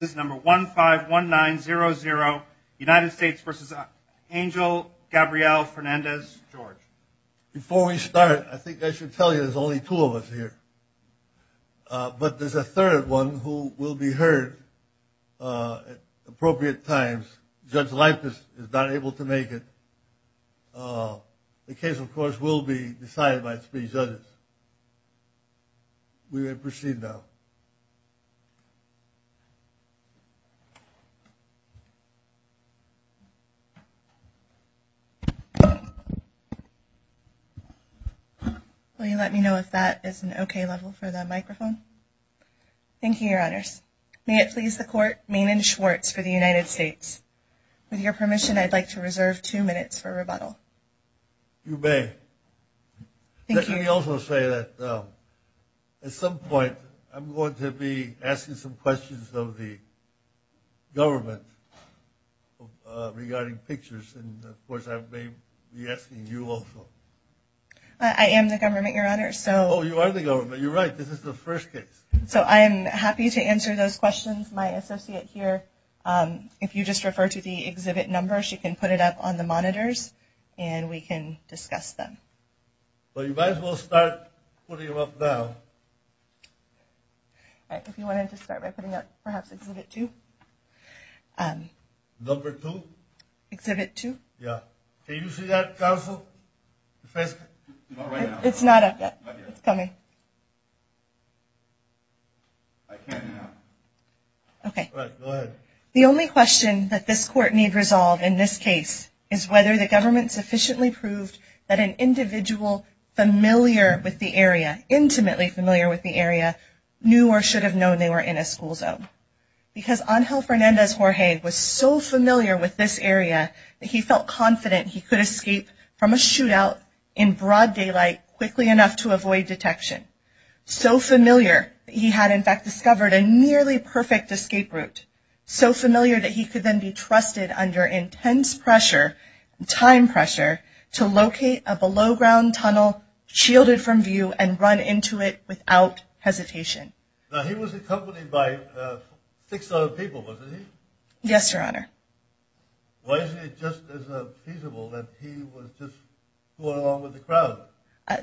Before we start, I think I should tell you there's only two of us here, but there's a third one who will be heard at appropriate times. Judge Lipis is not able to make it. The case, of course, will be decided by three judges. We may proceed now. Will you let me know if that is an okay level for the microphone? Thank you, your honors. May it please the court, Maynard Schwartz for the United States. With your permission, I'd like to reserve two minutes for rebuttal. You may. Let me also say that at some point I'm going to be asking some questions of the government regarding pictures, and of course I may be asking you also. I am the government, your honor. Oh, you are the government. You're right. This is the first case. So I'm happy to answer those questions. My associate here, if you just refer to the exhibit numbers, you can put it up on the monitors and we can discuss them. So you might as well start putting them up now. If you wanted to start by putting up perhaps exhibit two. Number two? Exhibit two. Yeah. Can you see that, counsel? It's not up yet. It's coming. Okay. The only question that this court need resolve in this case is whether the government sufficiently proved that an individual familiar with the area, intimately familiar with the area, knew or should have known they were in a school zone. Because Angel Fernandez-Jorge was so familiar with this area that he felt confident he could escape from a shootout in broad daylight quickly enough to avoid detection. So familiar that he had in fact discovered a nearly perfect escape route. So familiar that he could then be trusted under intense pressure, time pressure, to locate a below ground tunnel shielded from view and run into it without hesitation. Now he was accompanied by six other people, wasn't he? Yes, your honor. Why is it just as feasible that he was just going along with the crowd?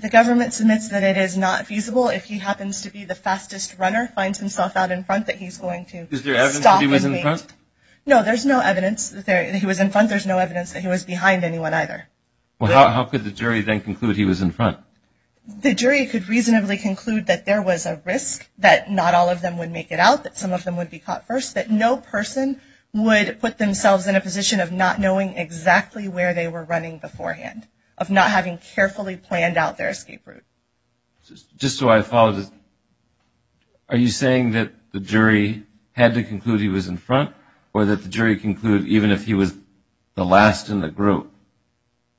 The government submits that it is not feasible if he happens to be the fastest runner, finds himself out in front, that he's going to stop him. He was in front? No, there's no evidence that he was in front. There's no evidence that he was behind anyone either. Well, how could the jury then conclude he was in front? The jury could reasonably conclude that there was a risk that not all of them would make it out, that some of them would be caught first, that no person would put themselves in a position of not knowing exactly where they were running beforehand, of not having carefully planned out their escape route. Just so I follow, are you saying that the jury had to conclude he was in front or that the jury concluded even if he was the last in the group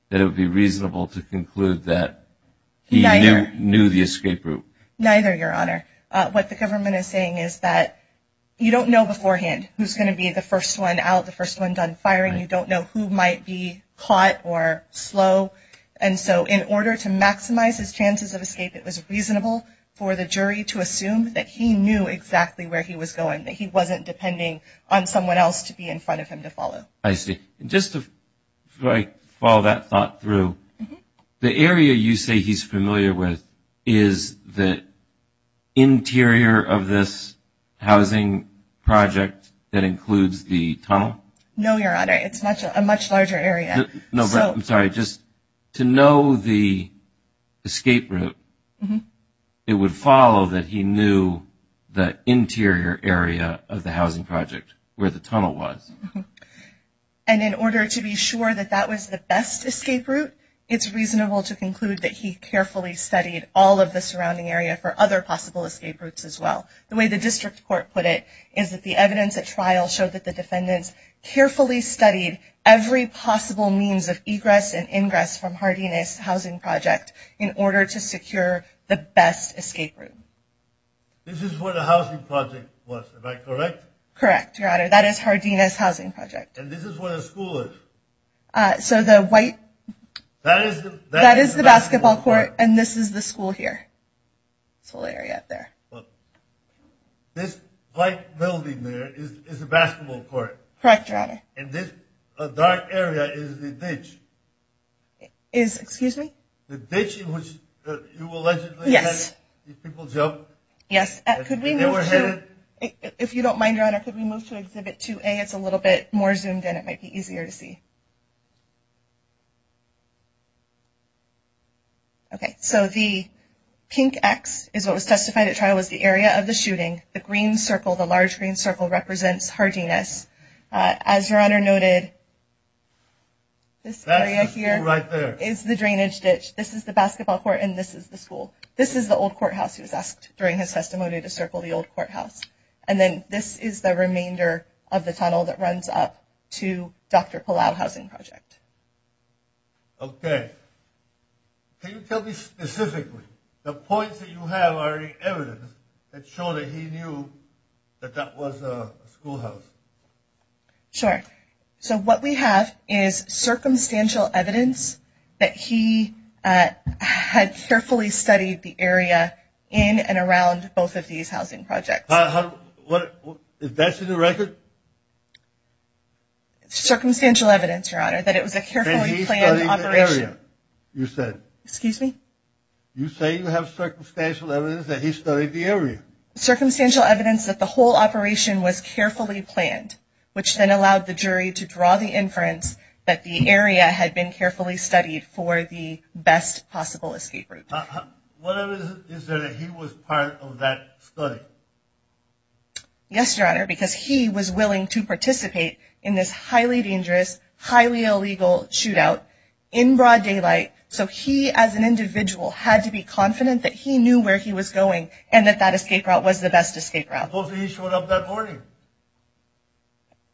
that it would be reasonable to conclude that he knew the escape route? Neither, your honor. What the government is saying is that you don't know beforehand who's going to be the first one out, the first one done firing. You don't know who might be caught or slow. And so in order to maximize his chances of escape, it was reasonable for the jury to assume that he knew exactly where he was going, that he wasn't depending on someone else to be in front of him to follow. I see. Just to follow that thought through, the area you say he's familiar with is the interior of this housing project that includes the tunnel? No, your honor. It's a much larger area. No, I'm sorry. Just to know the escape route, it would follow that he knew the interior area of the housing project where the tunnel was. And in order to be sure that that was the best escape route, it's reasonable to conclude that he carefully studied all of the surrounding area for other possible escape routes as well. The way the district court put it is that the evidence at trial showed that the defendants carefully studied every possible means of egress and ingress from Hardina's housing project in order to secure the best escape route. This is where the housing project was, am I correct? Correct, your honor. That is Hardina's housing project. And this is where the school is? That is the basketball court and this is the school here. This whole area up there. This white building there is the basketball court? Correct, your honor. And this dark area is the ditch? Excuse me? The ditch in which you allegedly had these people jump? Yes. If you don't mind, your honor, could we move to exhibit 2A? It's a little bit more zoomed in. It might be easier to see. Okay, so the pink X is what was testified at trial was the area of the shooting. The green circle, the large green circle represents Hardina's. As your honor noted, this area here is the drainage ditch. This is the basketball court and this is the school. This is the old courthouse he was asked during his testimony to circle the old courthouse. And then this is the remainder of the tunnel that runs up to Dr. Palau's housing project. Okay. Can you tell me specifically, the points that you have are evidence that show that he knew that that was a schoolhouse? Sure. So what we have is circumstantial evidence that he had carefully studied the area in and around both of these housing projects. Is that in the record? Circumstantial evidence, your honor, that it was a carefully planned operation. You said? Excuse me? You say you have circumstantial evidence that he studied the area? Circumstantial evidence that the whole operation was carefully planned, which then allowed the jury to draw the inference that the area had been carefully studied for the best possible escape route. Whatever is there that he was part of that study? Yes, your honor, because he was willing to participate in this highly dangerous, highly illegal shootout in broad daylight. So he, as an individual, had to be confident that he knew where he was going and that that escape route was the best escape route. Supposedly he showed up that morning.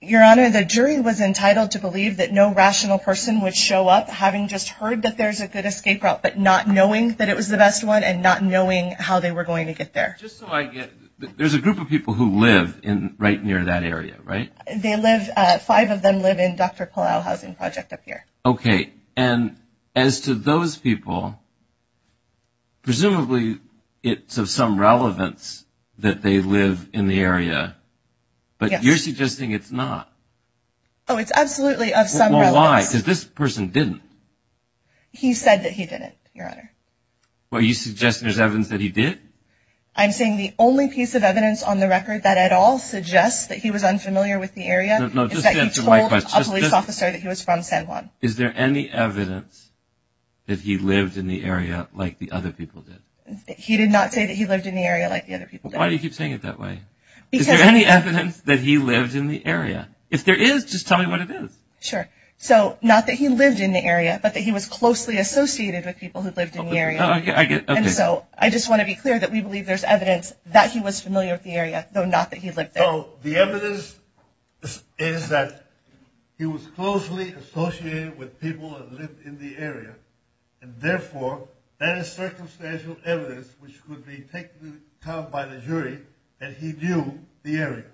Your honor, the jury was entitled to believe that no rational person would show up having just heard that there's a good escape route, but not knowing that it was the best one and not knowing how they were going to get there. Just so I get, there's a group of people who live right near that area, right? They live, five of them live in Dr. Palau Housing Project up here. Okay. And as to those people, presumably it's of some relevance that they live in the area, but you're suggesting it's not? Oh, it's absolutely of some relevance. Well, why? Because this person didn't. He said that he didn't, your honor. Are you suggesting there's evidence that he did? I'm saying the only piece of evidence on the record that at all suggests that he was unfamiliar with the area is that he told a police officer that he was from San Juan. Is there any evidence that he lived in the area like the other people did? He did not say that he lived in the area like the other people did. Why do you keep saying it that way? Is there any evidence that he lived in the area? If there is, just tell me what it is. Sure. So, not that he lived in the area, but that he was closely associated with people who lived in the area. And so, I just want to be clear that we believe there's evidence that he was familiar with the area, though not that he lived there. So, the evidence is that he was closely associated with people that lived in the area, and therefore, that is circumstantial evidence which could be taken to account by the jury that he knew the area.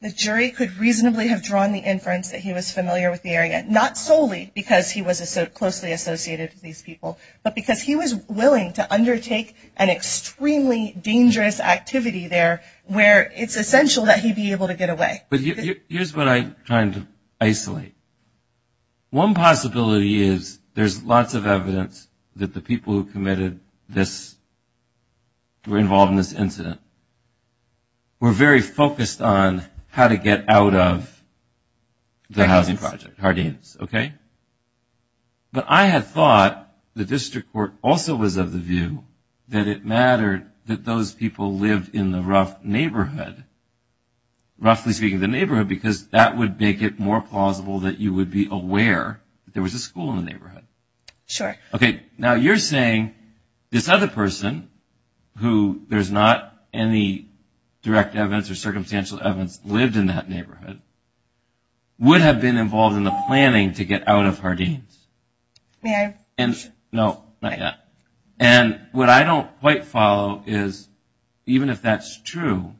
The jury could reasonably have drawn the inference that he was familiar with the area, not solely because he was closely associated with these people, but because he was willing to undertake an extremely dangerous activity there where it's essential that he be able to get away. Here's what I'm trying to isolate. One possibility is there's lots of evidence that the people who committed this, were involved in this incident, were very focused on how to get out of the housing project. Harding's, okay? But I had thought the district court also was of the view that it mattered that those people lived in the rough neighborhood, roughly speaking, the neighborhood, because that would make it more plausible that you would be aware that there was a school in the neighborhood. Sure. Okay, now you're saying this other person, who there's not any direct evidence or circumstantial evidence, lived in that neighborhood, would have been involved in the planning to get out of Harding's. May I? No, not yet. And what I don't quite follow is, even if that's true,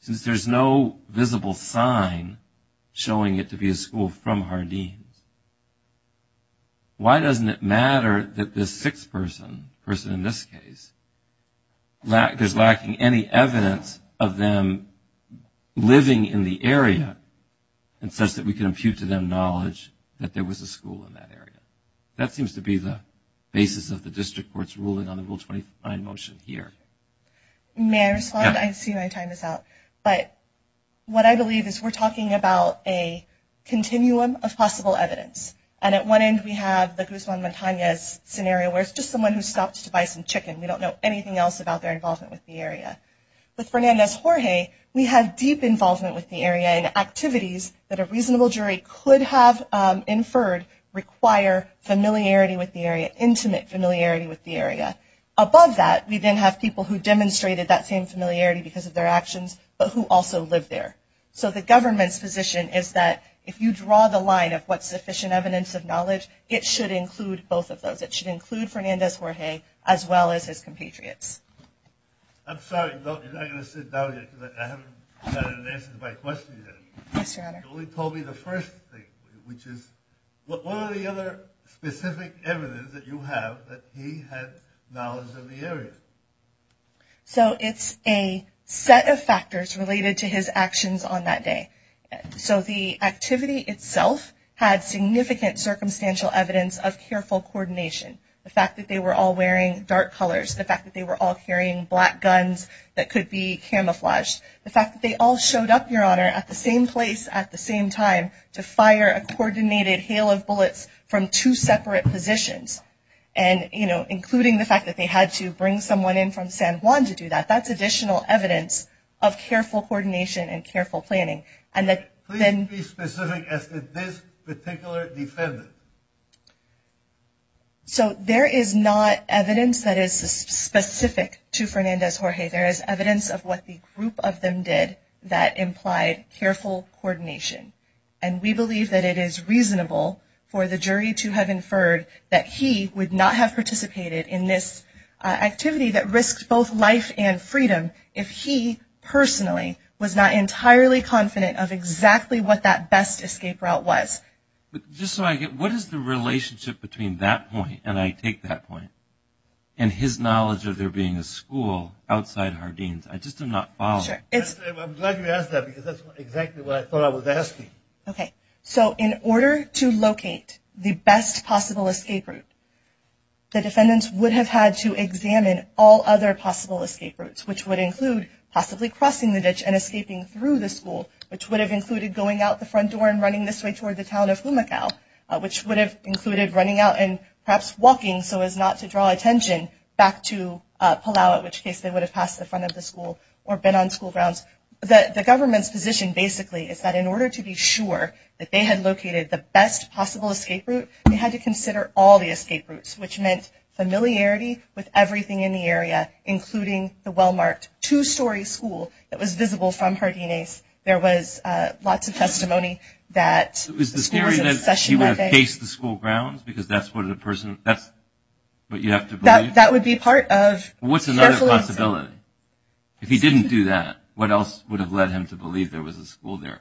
since there's no visible sign showing it to be a school from Harding's, why doesn't it matter that this sixth person, person in this case, is lacking any evidence of them living in the area, and such that we can impute to them knowledge that there was a school in that area. That seems to be the basis of the district court's ruling on the Rule 25 motion here. May I respond? I see my time is out. But what I believe is we're talking about a continuum of possible evidence. And at one end we have the Guzman-Montanez scenario, where it's just someone who stops to buy some chicken. We don't know anything else about their involvement with the area. With Fernandez-Jorge, we have deep involvement with the area, and activities that a reasonable jury could have inferred require familiarity with the area, intimate familiarity with the area. Above that, we then have people who demonstrated that same familiarity because of their actions, but who also live there. So the government's position is that if you draw the line of what's sufficient evidence of knowledge, it should include both of those. It should include Fernandez-Jorge as well as his compatriots. I'm sorry. You're not going to sit down yet because I haven't gotten an answer to my question yet. Yes, Your Honor. You only told me the first thing, which is what are the other specific evidence that you have that he had knowledge of the area? So it's a set of factors related to his actions on that day. So the activity itself had significant circumstantial evidence of careful coordination. The fact that they were all wearing dark colors. The fact that they were all carrying black guns that could be camouflaged. The fact that they all showed up, Your Honor, at the same place at the same time to fire a coordinated hail of bullets from two separate positions. And, you know, including the fact that they had to bring someone in from San Juan to do that. That's additional evidence of careful coordination and careful planning. Please be specific as to this particular defendant. So there is not evidence that is specific to Fernandez-Jorge. There is evidence of what the group of them did that implied careful coordination. And we believe that it is reasonable for the jury to have inferred that he would not have participated in this activity that risked both life and freedom if he personally was not entirely confident of exactly what that best escape route was. But just so I get, what is the relationship between that point, and I take that point, and his knowledge of there being a school outside Hardeen's? I just am not following. I'm glad you asked that because that's exactly what I thought I was asking. Okay. So in order to locate the best possible escape route, the defendants would have had to examine all other possible escape routes, which would include possibly crossing the ditch and escaping through the school, which would have included going out the front door and running this way toward the town of Fumacao, which would have included running out and perhaps walking so as not to draw attention back to Palau, in which case they would have passed the front of the school or been on school grounds. The government's position basically is that in order to be sure that they had located the best possible escape route, they had to consider all the escape routes, which meant familiarity with everything in the area, including the well-marked two-story school that was visible from Hardeen's. There was lots of testimony that the school was in session that day. Was the theory that he would have faced the school grounds? Because that's what a person, that's what you have to believe? That would be part of careful assessment. What's another possibility? If he didn't do that, what else would have led him to believe there was a school there?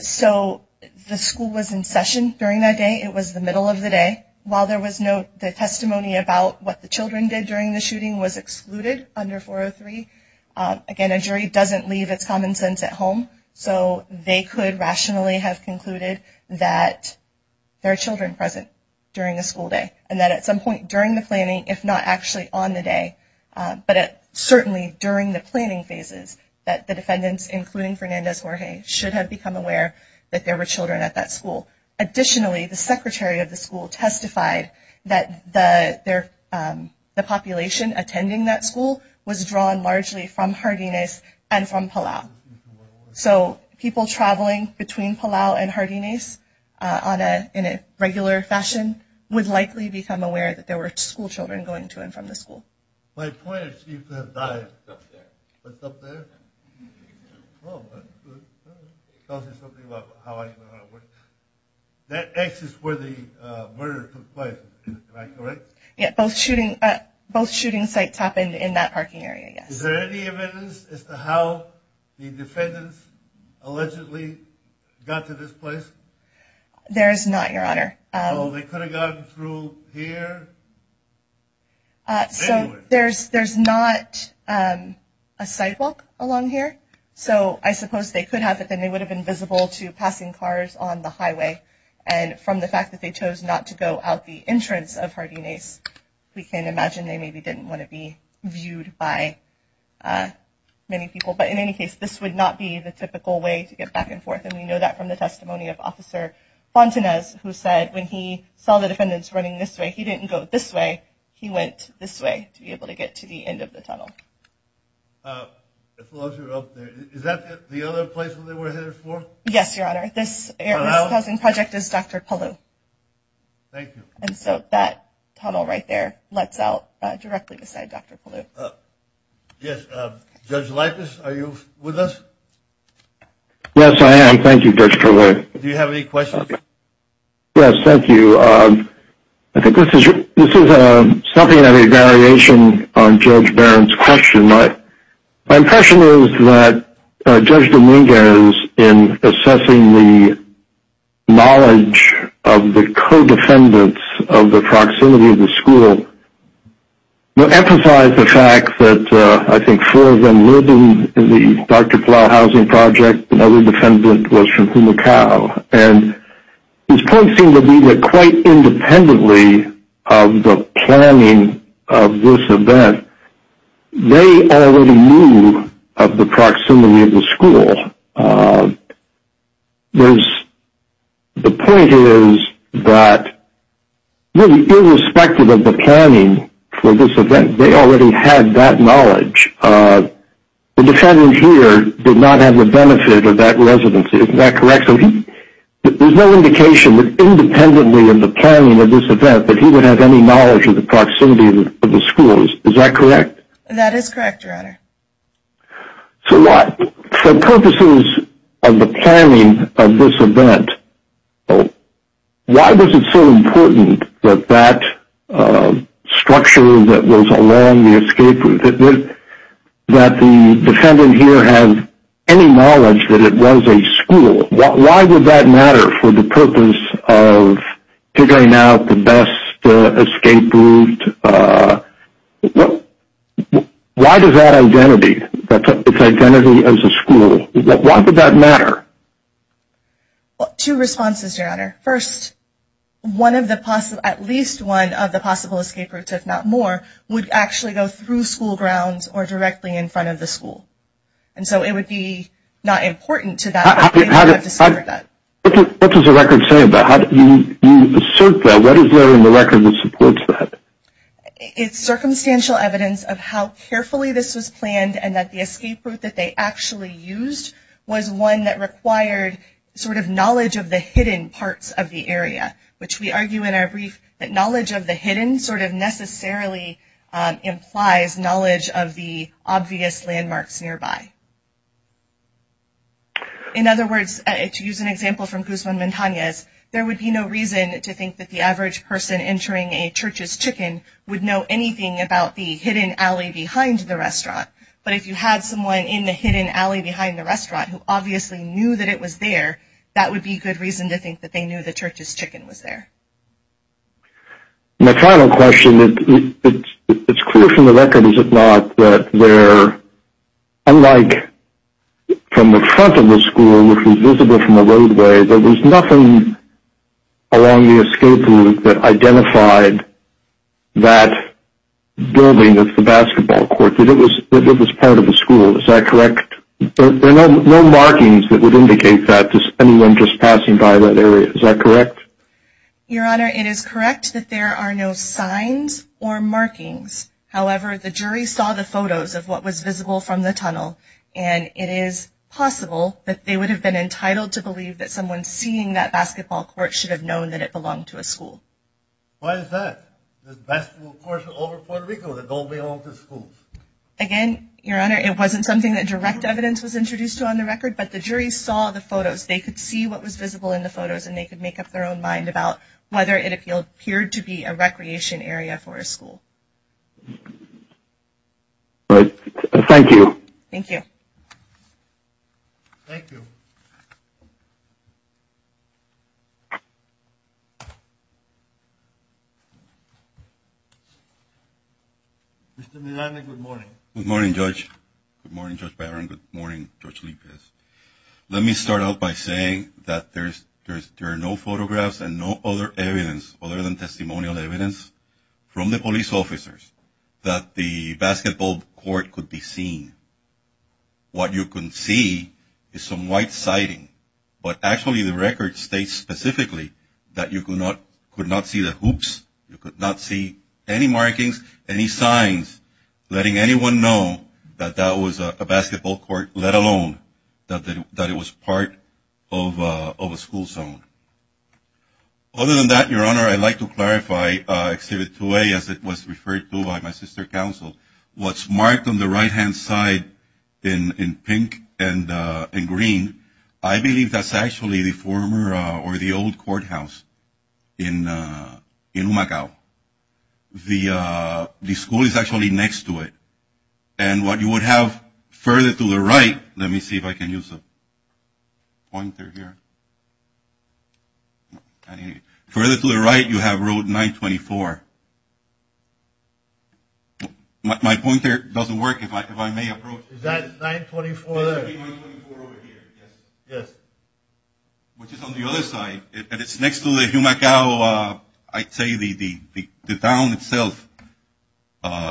So the school was in session during that day. It was the middle of the day. While there was no testimony about what the children did during the shooting was excluded under 403, again, a jury doesn't leave its common sense at home, so they could rationally have concluded that there are children present during the school day and that at some point during the planning, if not actually on the day, but certainly during the planning phases, that the defendants, including Fernandez-Jorge, should have become aware that there were children at that school. Additionally, the secretary of the school testified that the population attending that school was drawn largely from Hardeen's and from Palau. So people traveling between Palau and Hardeen's in a regular fashion would likely become aware that there were school children going to and from the school. My point is, you could have died up there. What's up there? Oh, that tells me something about how I know how to work. That X is where the murder took place, am I correct? Yeah, both shooting sites happened in that parking area, yes. Is there any evidence as to how the defendants allegedly got to this place? There is not, Your Honor. So they could have gotten through here? So there's not a sidewalk along here. So I suppose they could have, but then they would have been visible to passing cars on the highway. And from the fact that they chose not to go out the entrance of Hardeen Ace, we can imagine they maybe didn't want to be viewed by many people. But in any case, this would not be the typical way to get back and forth. And we know that from the testimony of Officer Fontanez, who said when he saw the defendants running this way, he didn't go this way. He went this way to be able to get to the end of the tunnel. Is that the other place where they were headed for? Yes, Your Honor. This housing project is Dr. Palou. Thank you. And so that tunnel right there lets out directly beside Dr. Palou. Yes. Judge Lippis, are you with us? Yes, I am. Thank you, Judge Trullo. Do you have any questions? Yes, thank you. I think this is something of a variation on Judge Barron's question. My impression is that Judge Dominguez, in assessing the knowledge of the co-defendants of the proximity of the school, emphasized the fact that I think four of them lived in the Dr. Palou housing project. Another defendant was from Humacao. And his point seemed to be that quite independently of the planning of this event, they already knew of the proximity of the school. The point is that really irrespective of the planning for this event, they already had that knowledge. The defendant here did not have the benefit of that residency. Isn't that correct? So there's no indication that independently of the planning of this event that he would have any knowledge of the proximity of the schools. Is that correct? That is correct, Your Honor. So what? For purposes of the planning of this event, why was it so important that that structure that was along the escape route, that the defendant here has any knowledge that it was a school? Why would that matter for the purpose of figuring out the best escape route? Why does that identity, its identity as a school, why would that matter? Two responses, Your Honor. First, at least one of the possible escape routes, if not more, would actually go through school grounds or directly in front of the school. And so it would be not important to that. What does the record say about that? You assert that. What is there in the record that supports that? It's circumstantial evidence of how carefully this was planned and that the escape route that they actually used was one that required sort of knowledge of the hidden parts of the area, which we argue in our brief that knowledge of the hidden sort of necessarily implies knowledge of the obvious landmarks nearby. In other words, to use an example from Guzman Montanez, there would be no reason to think that the average person entering a church's chicken would know anything about the hidden alley behind the restaurant. But if you had someone in the hidden alley behind the restaurant who obviously knew that it was there, that would be good reason to think that they knew the church's chicken was there. My final question, it's clear from the record, is it not, that there, unlike from the front of the school, which was visible from the roadway, there was nothing along the escape route that identified that building as the basketball court, that it was part of the school. Is that correct? There are no markings that would indicate that to anyone just passing by that area. Is that correct? Your Honor, it is correct that there are no signs or markings. However, the jury saw the photos of what was visible from the tunnel, and it is possible that they would have been entitled to believe that someone seeing that basketball court should have known that it belonged to a school. Why is that, this basketball court over Puerto Rico that don't belong to schools? Again, Your Honor, it wasn't something that direct evidence was introduced to on the record, but the jury saw the photos. They could see what was visible in the photos, and they could make up their own mind about whether it appeared to be a recreation area for a school. All right. Thank you. Thank you. Thank you. Mr. Milani, good morning. Good morning, Judge. Good morning, Judge Barron. Good morning, Judge Lipez. Let me start out by saying that there are no photographs and no other evidence other than testimonial evidence from the police officers that the basketball court could be seen. What you can see is some white siding, but actually the record states specifically that you could not see the hoops, you could not see any markings, any signs, letting anyone know that that was a basketball court, let alone that it was part of a school zone. Other than that, Your Honor, I'd like to clarify Exhibit 2A as it was referred to by my sister counsel. What's marked on the right-hand side in pink and green, I believe that's actually the former or the old courthouse in Umagao. The school is actually next to it. And what you would have further to the right, let me see if I can use a pointer here. Further to the right you have Road 924. My pointer doesn't work, if I may approach. Is that 924 there? Yes. Which is on the other side, and it's next to the Umagao, I'd say the town itself.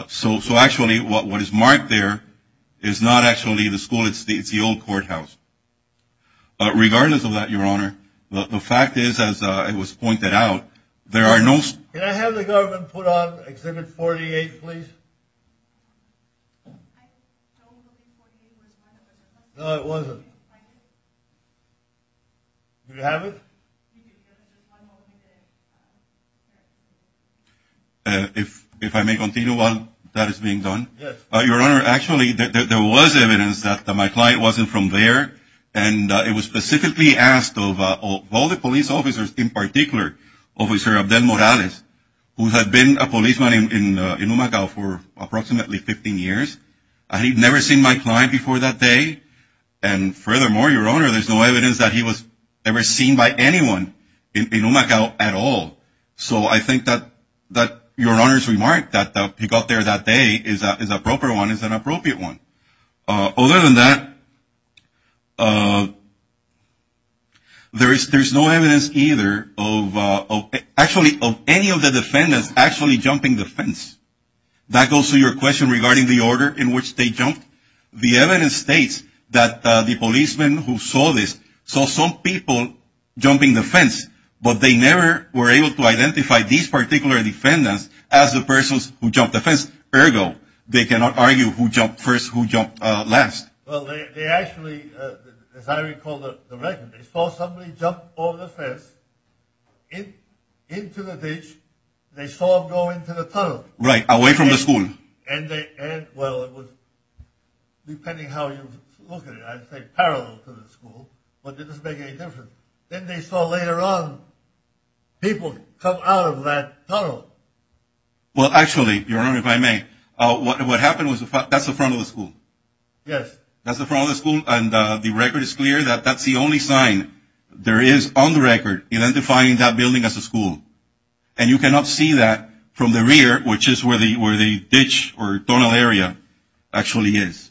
So actually what is marked there is not actually the school, it's the old courthouse. Regardless of that, Your Honor, the fact is, as it was pointed out, there are no... Can I have the government put on Exhibit 48, please? No, it wasn't. Do you have it? If I may continue while that is being done. Your Honor, actually there was evidence that my client wasn't from there, and it was specifically asked of all the police officers in particular, Officer Abdel Morales, who had been a policeman in Umagao for approximately 15 years. And he'd never seen my client before that day. And furthermore, Your Honor, there's no evidence that he was ever seen by anyone in Umagao at all. So I think that Your Honor's remark that he got there that day is a proper one, is an appropriate one. Other than that, there's no evidence either of actually any of the defendants actually jumping the fence. That goes to your question regarding the order in which they jumped. The evidence states that the policeman who saw this saw some people jumping the fence, but they never were able to identify these particular defendants as the persons who jumped the fence. Ergo, they cannot argue who jumped first, who jumped last. Well, they actually, as I recall the record, they saw somebody jump over the fence into the ditch. They saw them go into the tunnel. Right. Away from the school. And they... Well, it was... Depending how you look at it, I'd say parallel to the school, but it doesn't make any difference. Then they saw later on people come out of that tunnel. Well, actually, Your Honor, if I may, what happened was that's the front of the school. Yes. That's the front of the school, and the record is clear that that's the only sign there is on the record identifying that building as a school. And you cannot see that from the rear, which is where the ditch or tunnel area actually is.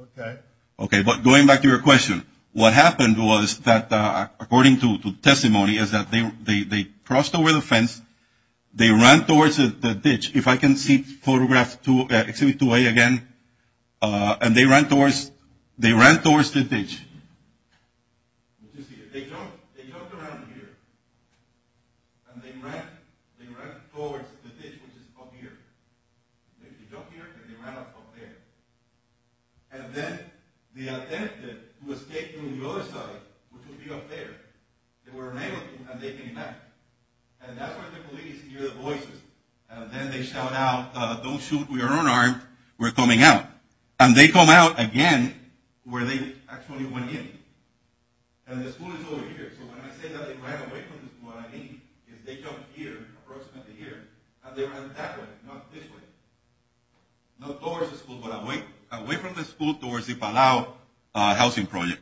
Okay. Okay, but going back to your question, what happened was that, according to testimony, is that they crossed over the fence. They ran towards the ditch. If I can see photograph exhibit 2A again. And they ran towards the ditch. You see, they jumped around here, and they ran towards the ditch, which is up here. They jumped here, and they ran up there. And then they attempted to escape from the other side, which would be up there. They were unable to, and they came back. And that's when the police hear the voices. And then they shout out, don't shoot, we are unarmed, we're coming out. And they come out again where they actually went in. And the school is over here. So when I say that they ran away from what I mean is they jumped here, approximately here, and they ran that way, not this way. Not towards the school, but away from the school towards the Palau housing project.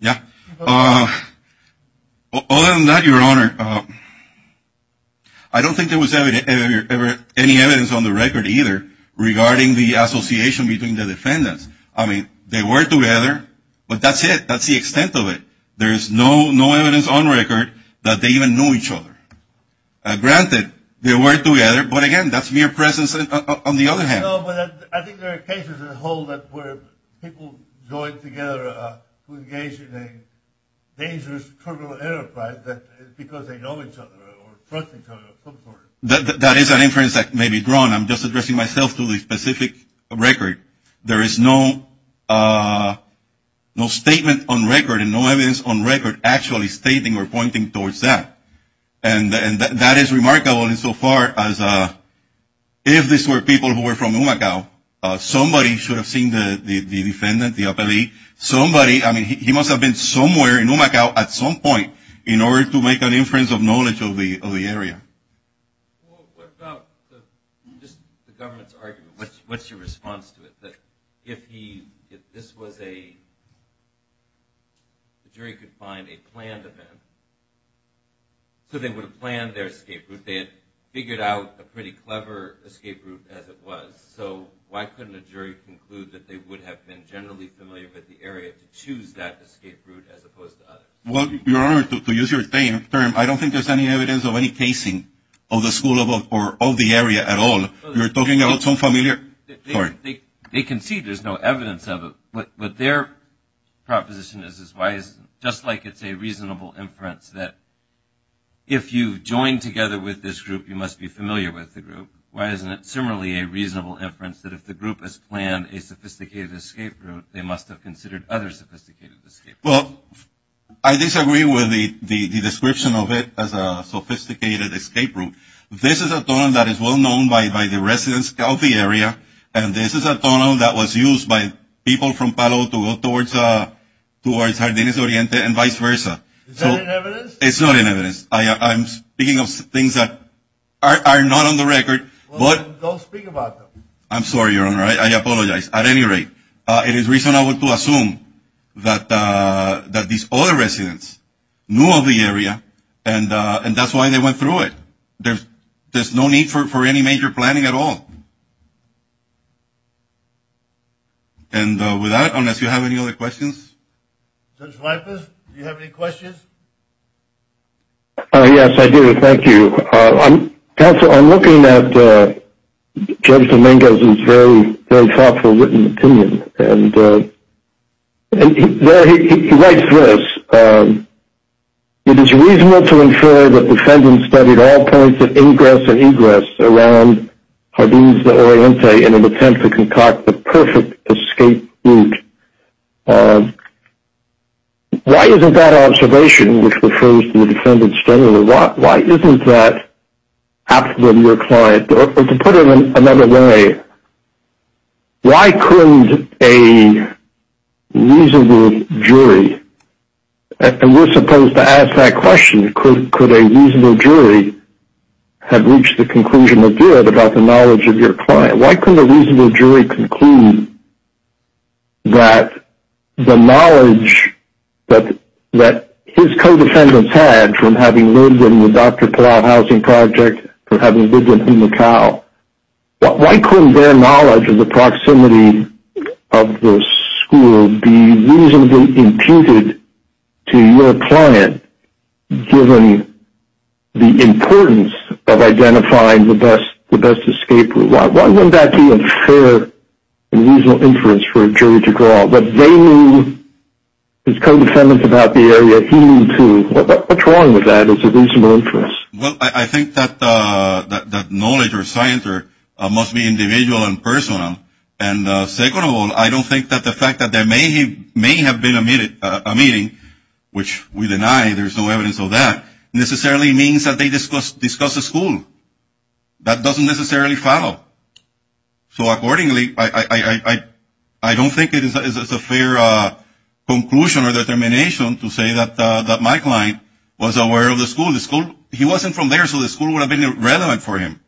Yeah. Other than that, Your Honor, I don't think there was any evidence on the record either regarding the association between the defendants. I mean, they were together, but that's it. That's the extent of it. There is no evidence on record that they even knew each other. Granted, they were together, but again, that's mere presence on the other hand. No, but I think there are cases that hold up where people joined together to engage in a dangerous criminal enterprise because they know each other or trust each other. That is an inference that may be drawn. I'm just addressing myself to the specific record. There is no statement on record and no evidence on record actually stating or pointing towards that. And that is remarkable insofar as if these were people who were from Umacao, somebody should have seen the defendant, the appellee, somebody. I mean, he must have been somewhere in Umacao at some point in order to make an inference of knowledge of the area. What about the government's argument? What's your response to it? If this was a jury could find a planned event, so they would have planned their escape route. They had figured out a pretty clever escape route as it was. So why couldn't a jury conclude that they would have been generally familiar with the area to choose that escape route as opposed to others? Well, Your Honor, to use your term, I don't think there's any evidence of any casing of the school or of the area at all. You're talking about some familiar story. They concede there's no evidence of it. But their proposition is just like it's a reasonable inference that if you join together with this group, you must be familiar with the group. Why isn't it similarly a reasonable inference that if the group has planned a sophisticated escape route, they must have considered other sophisticated escape routes? Well, I disagree with the description of it as a sophisticated escape route. This is a tunnel that is well known by the residents of the area, and this is a tunnel that was used by people from Palo to go towards Jardines Oriente and vice versa. Is that an evidence? It's not an evidence. I'm speaking of things that are not on the record. Well, don't speak about them. I'm sorry, Your Honor. I apologize. At any rate, it is reasonable to assume that these other residents knew of the area, and that's why they went through it. There's no need for any major planning at all. And with that, unless you have any other questions? Judge Rivas, do you have any questions? Yes, I do. Thank you. Counsel, I'm looking at Judge Dominguez's very thoughtful written opinion, and he writes this. It is reasonable to infer that defendants studied all points of ingress and egress around Jardines Oriente in an attempt to concoct the perfect escape route. Why isn't that observation, which refers to the defendants generally, why isn't that absolutely your client? Or to put it another way, why couldn't a reasonable jury, and we're supposed to ask that question, could a reasonable jury have reached the conclusion of good about the knowledge of your client? Why couldn't their knowledge of the proximity of the school be reasonably imputed to your client, given the importance of identifying the best escape route? Why wouldn't that be a fair and reasonable inference for a jury to draw? What they knew as co-defendants about the area, he knew, too. What's wrong with that as a reasonable inference? Well, I think that knowledge or science must be individual and personal. And second of all, I don't think that the fact that there may have been a meeting, which we deny there's no evidence of that, necessarily means that they discussed the school. That doesn't necessarily follow. So accordingly, I don't think it is a fair conclusion or determination to say that my client was aware of the school. He wasn't from there, so the school would have been irrelevant for him.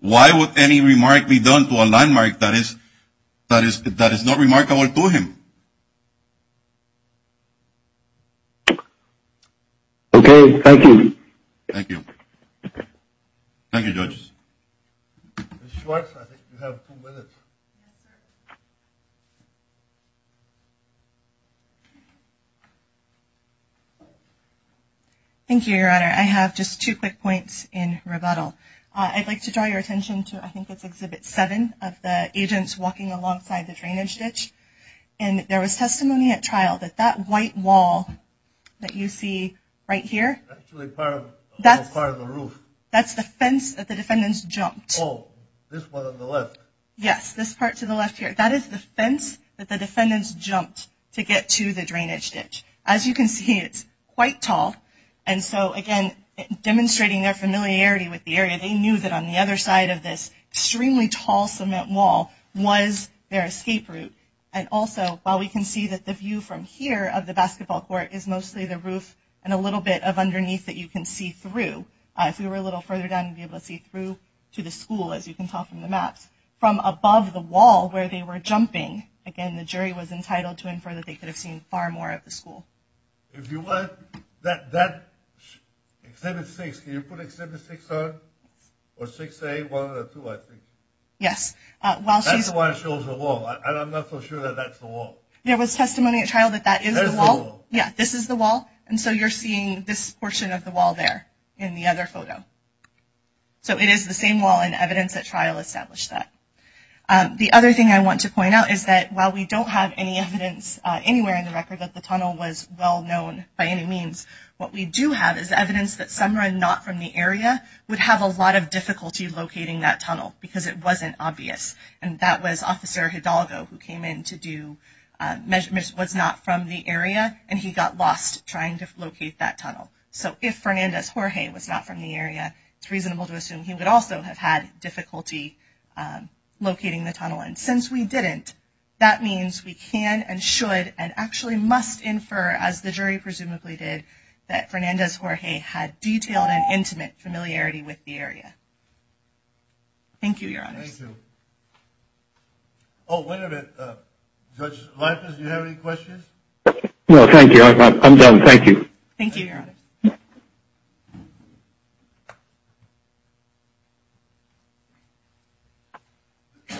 Why would any remark be done to a landmark that is not remarkable to him? Okay, thank you. Thank you. Thank you, judges. Ms. Schwartz, I think you have two minutes. Thank you, Your Honor. I have just two quick points in rebuttal. I'd like to draw your attention to I think it's Exhibit 7 of the agents walking alongside the drainage ditch. And there was testimony at trial that that white wall that you see right here. That's part of the roof. That's the fence that the defendants jumped. Oh, this one on the left. Yes, this part to the left here. That is the fence that the defendants jumped to get to the drainage ditch. As you can see, it's quite tall. And so, again, demonstrating their familiarity with the area, they knew that on the other side of this extremely tall cement wall was their escape route. And also, while we can see that the view from here of the basketball court is mostly the roof and a little bit of underneath that you can see through. If we were a little further down, we'd be able to see through to the school, as you can tell from the maps. From above the wall where they were jumping, again, the jury was entitled to infer that they could have seen far more of the school. If you would, that Exhibit 6, can you put Exhibit 6 on? Or 6A, 1 or 2, I think. Yes. That's why it shows the wall. And I'm not so sure that that's the wall. There was testimony at trial that that is the wall. Yeah, this is the wall. And so you're seeing this portion of the wall there in the other photo. So it is the same wall, and evidence at trial established that. The other thing I want to point out is that while we don't have any evidence anywhere in the record that the tunnel was well-known by any means, what we do have is evidence that someone not from the area would have a lot of difficulty locating that tunnel because it wasn't obvious. And that was Officer Hidalgo who came in to do measurements, was not from the area, and he got lost trying to locate that tunnel. So if Fernandez-Jorge was not from the area, it's reasonable to assume he would also have had difficulty locating the tunnel. And since we didn't, that means we can and should and actually must infer, as the jury presumably did, that Fernandez-Jorge had detailed and intimate familiarity with the area. Thank you, Your Honor. Thank you. Oh, wait a minute. Judge Leifers, do you have any questions? No, thank you. I'm done. Thank you. Thank you, Your Honor.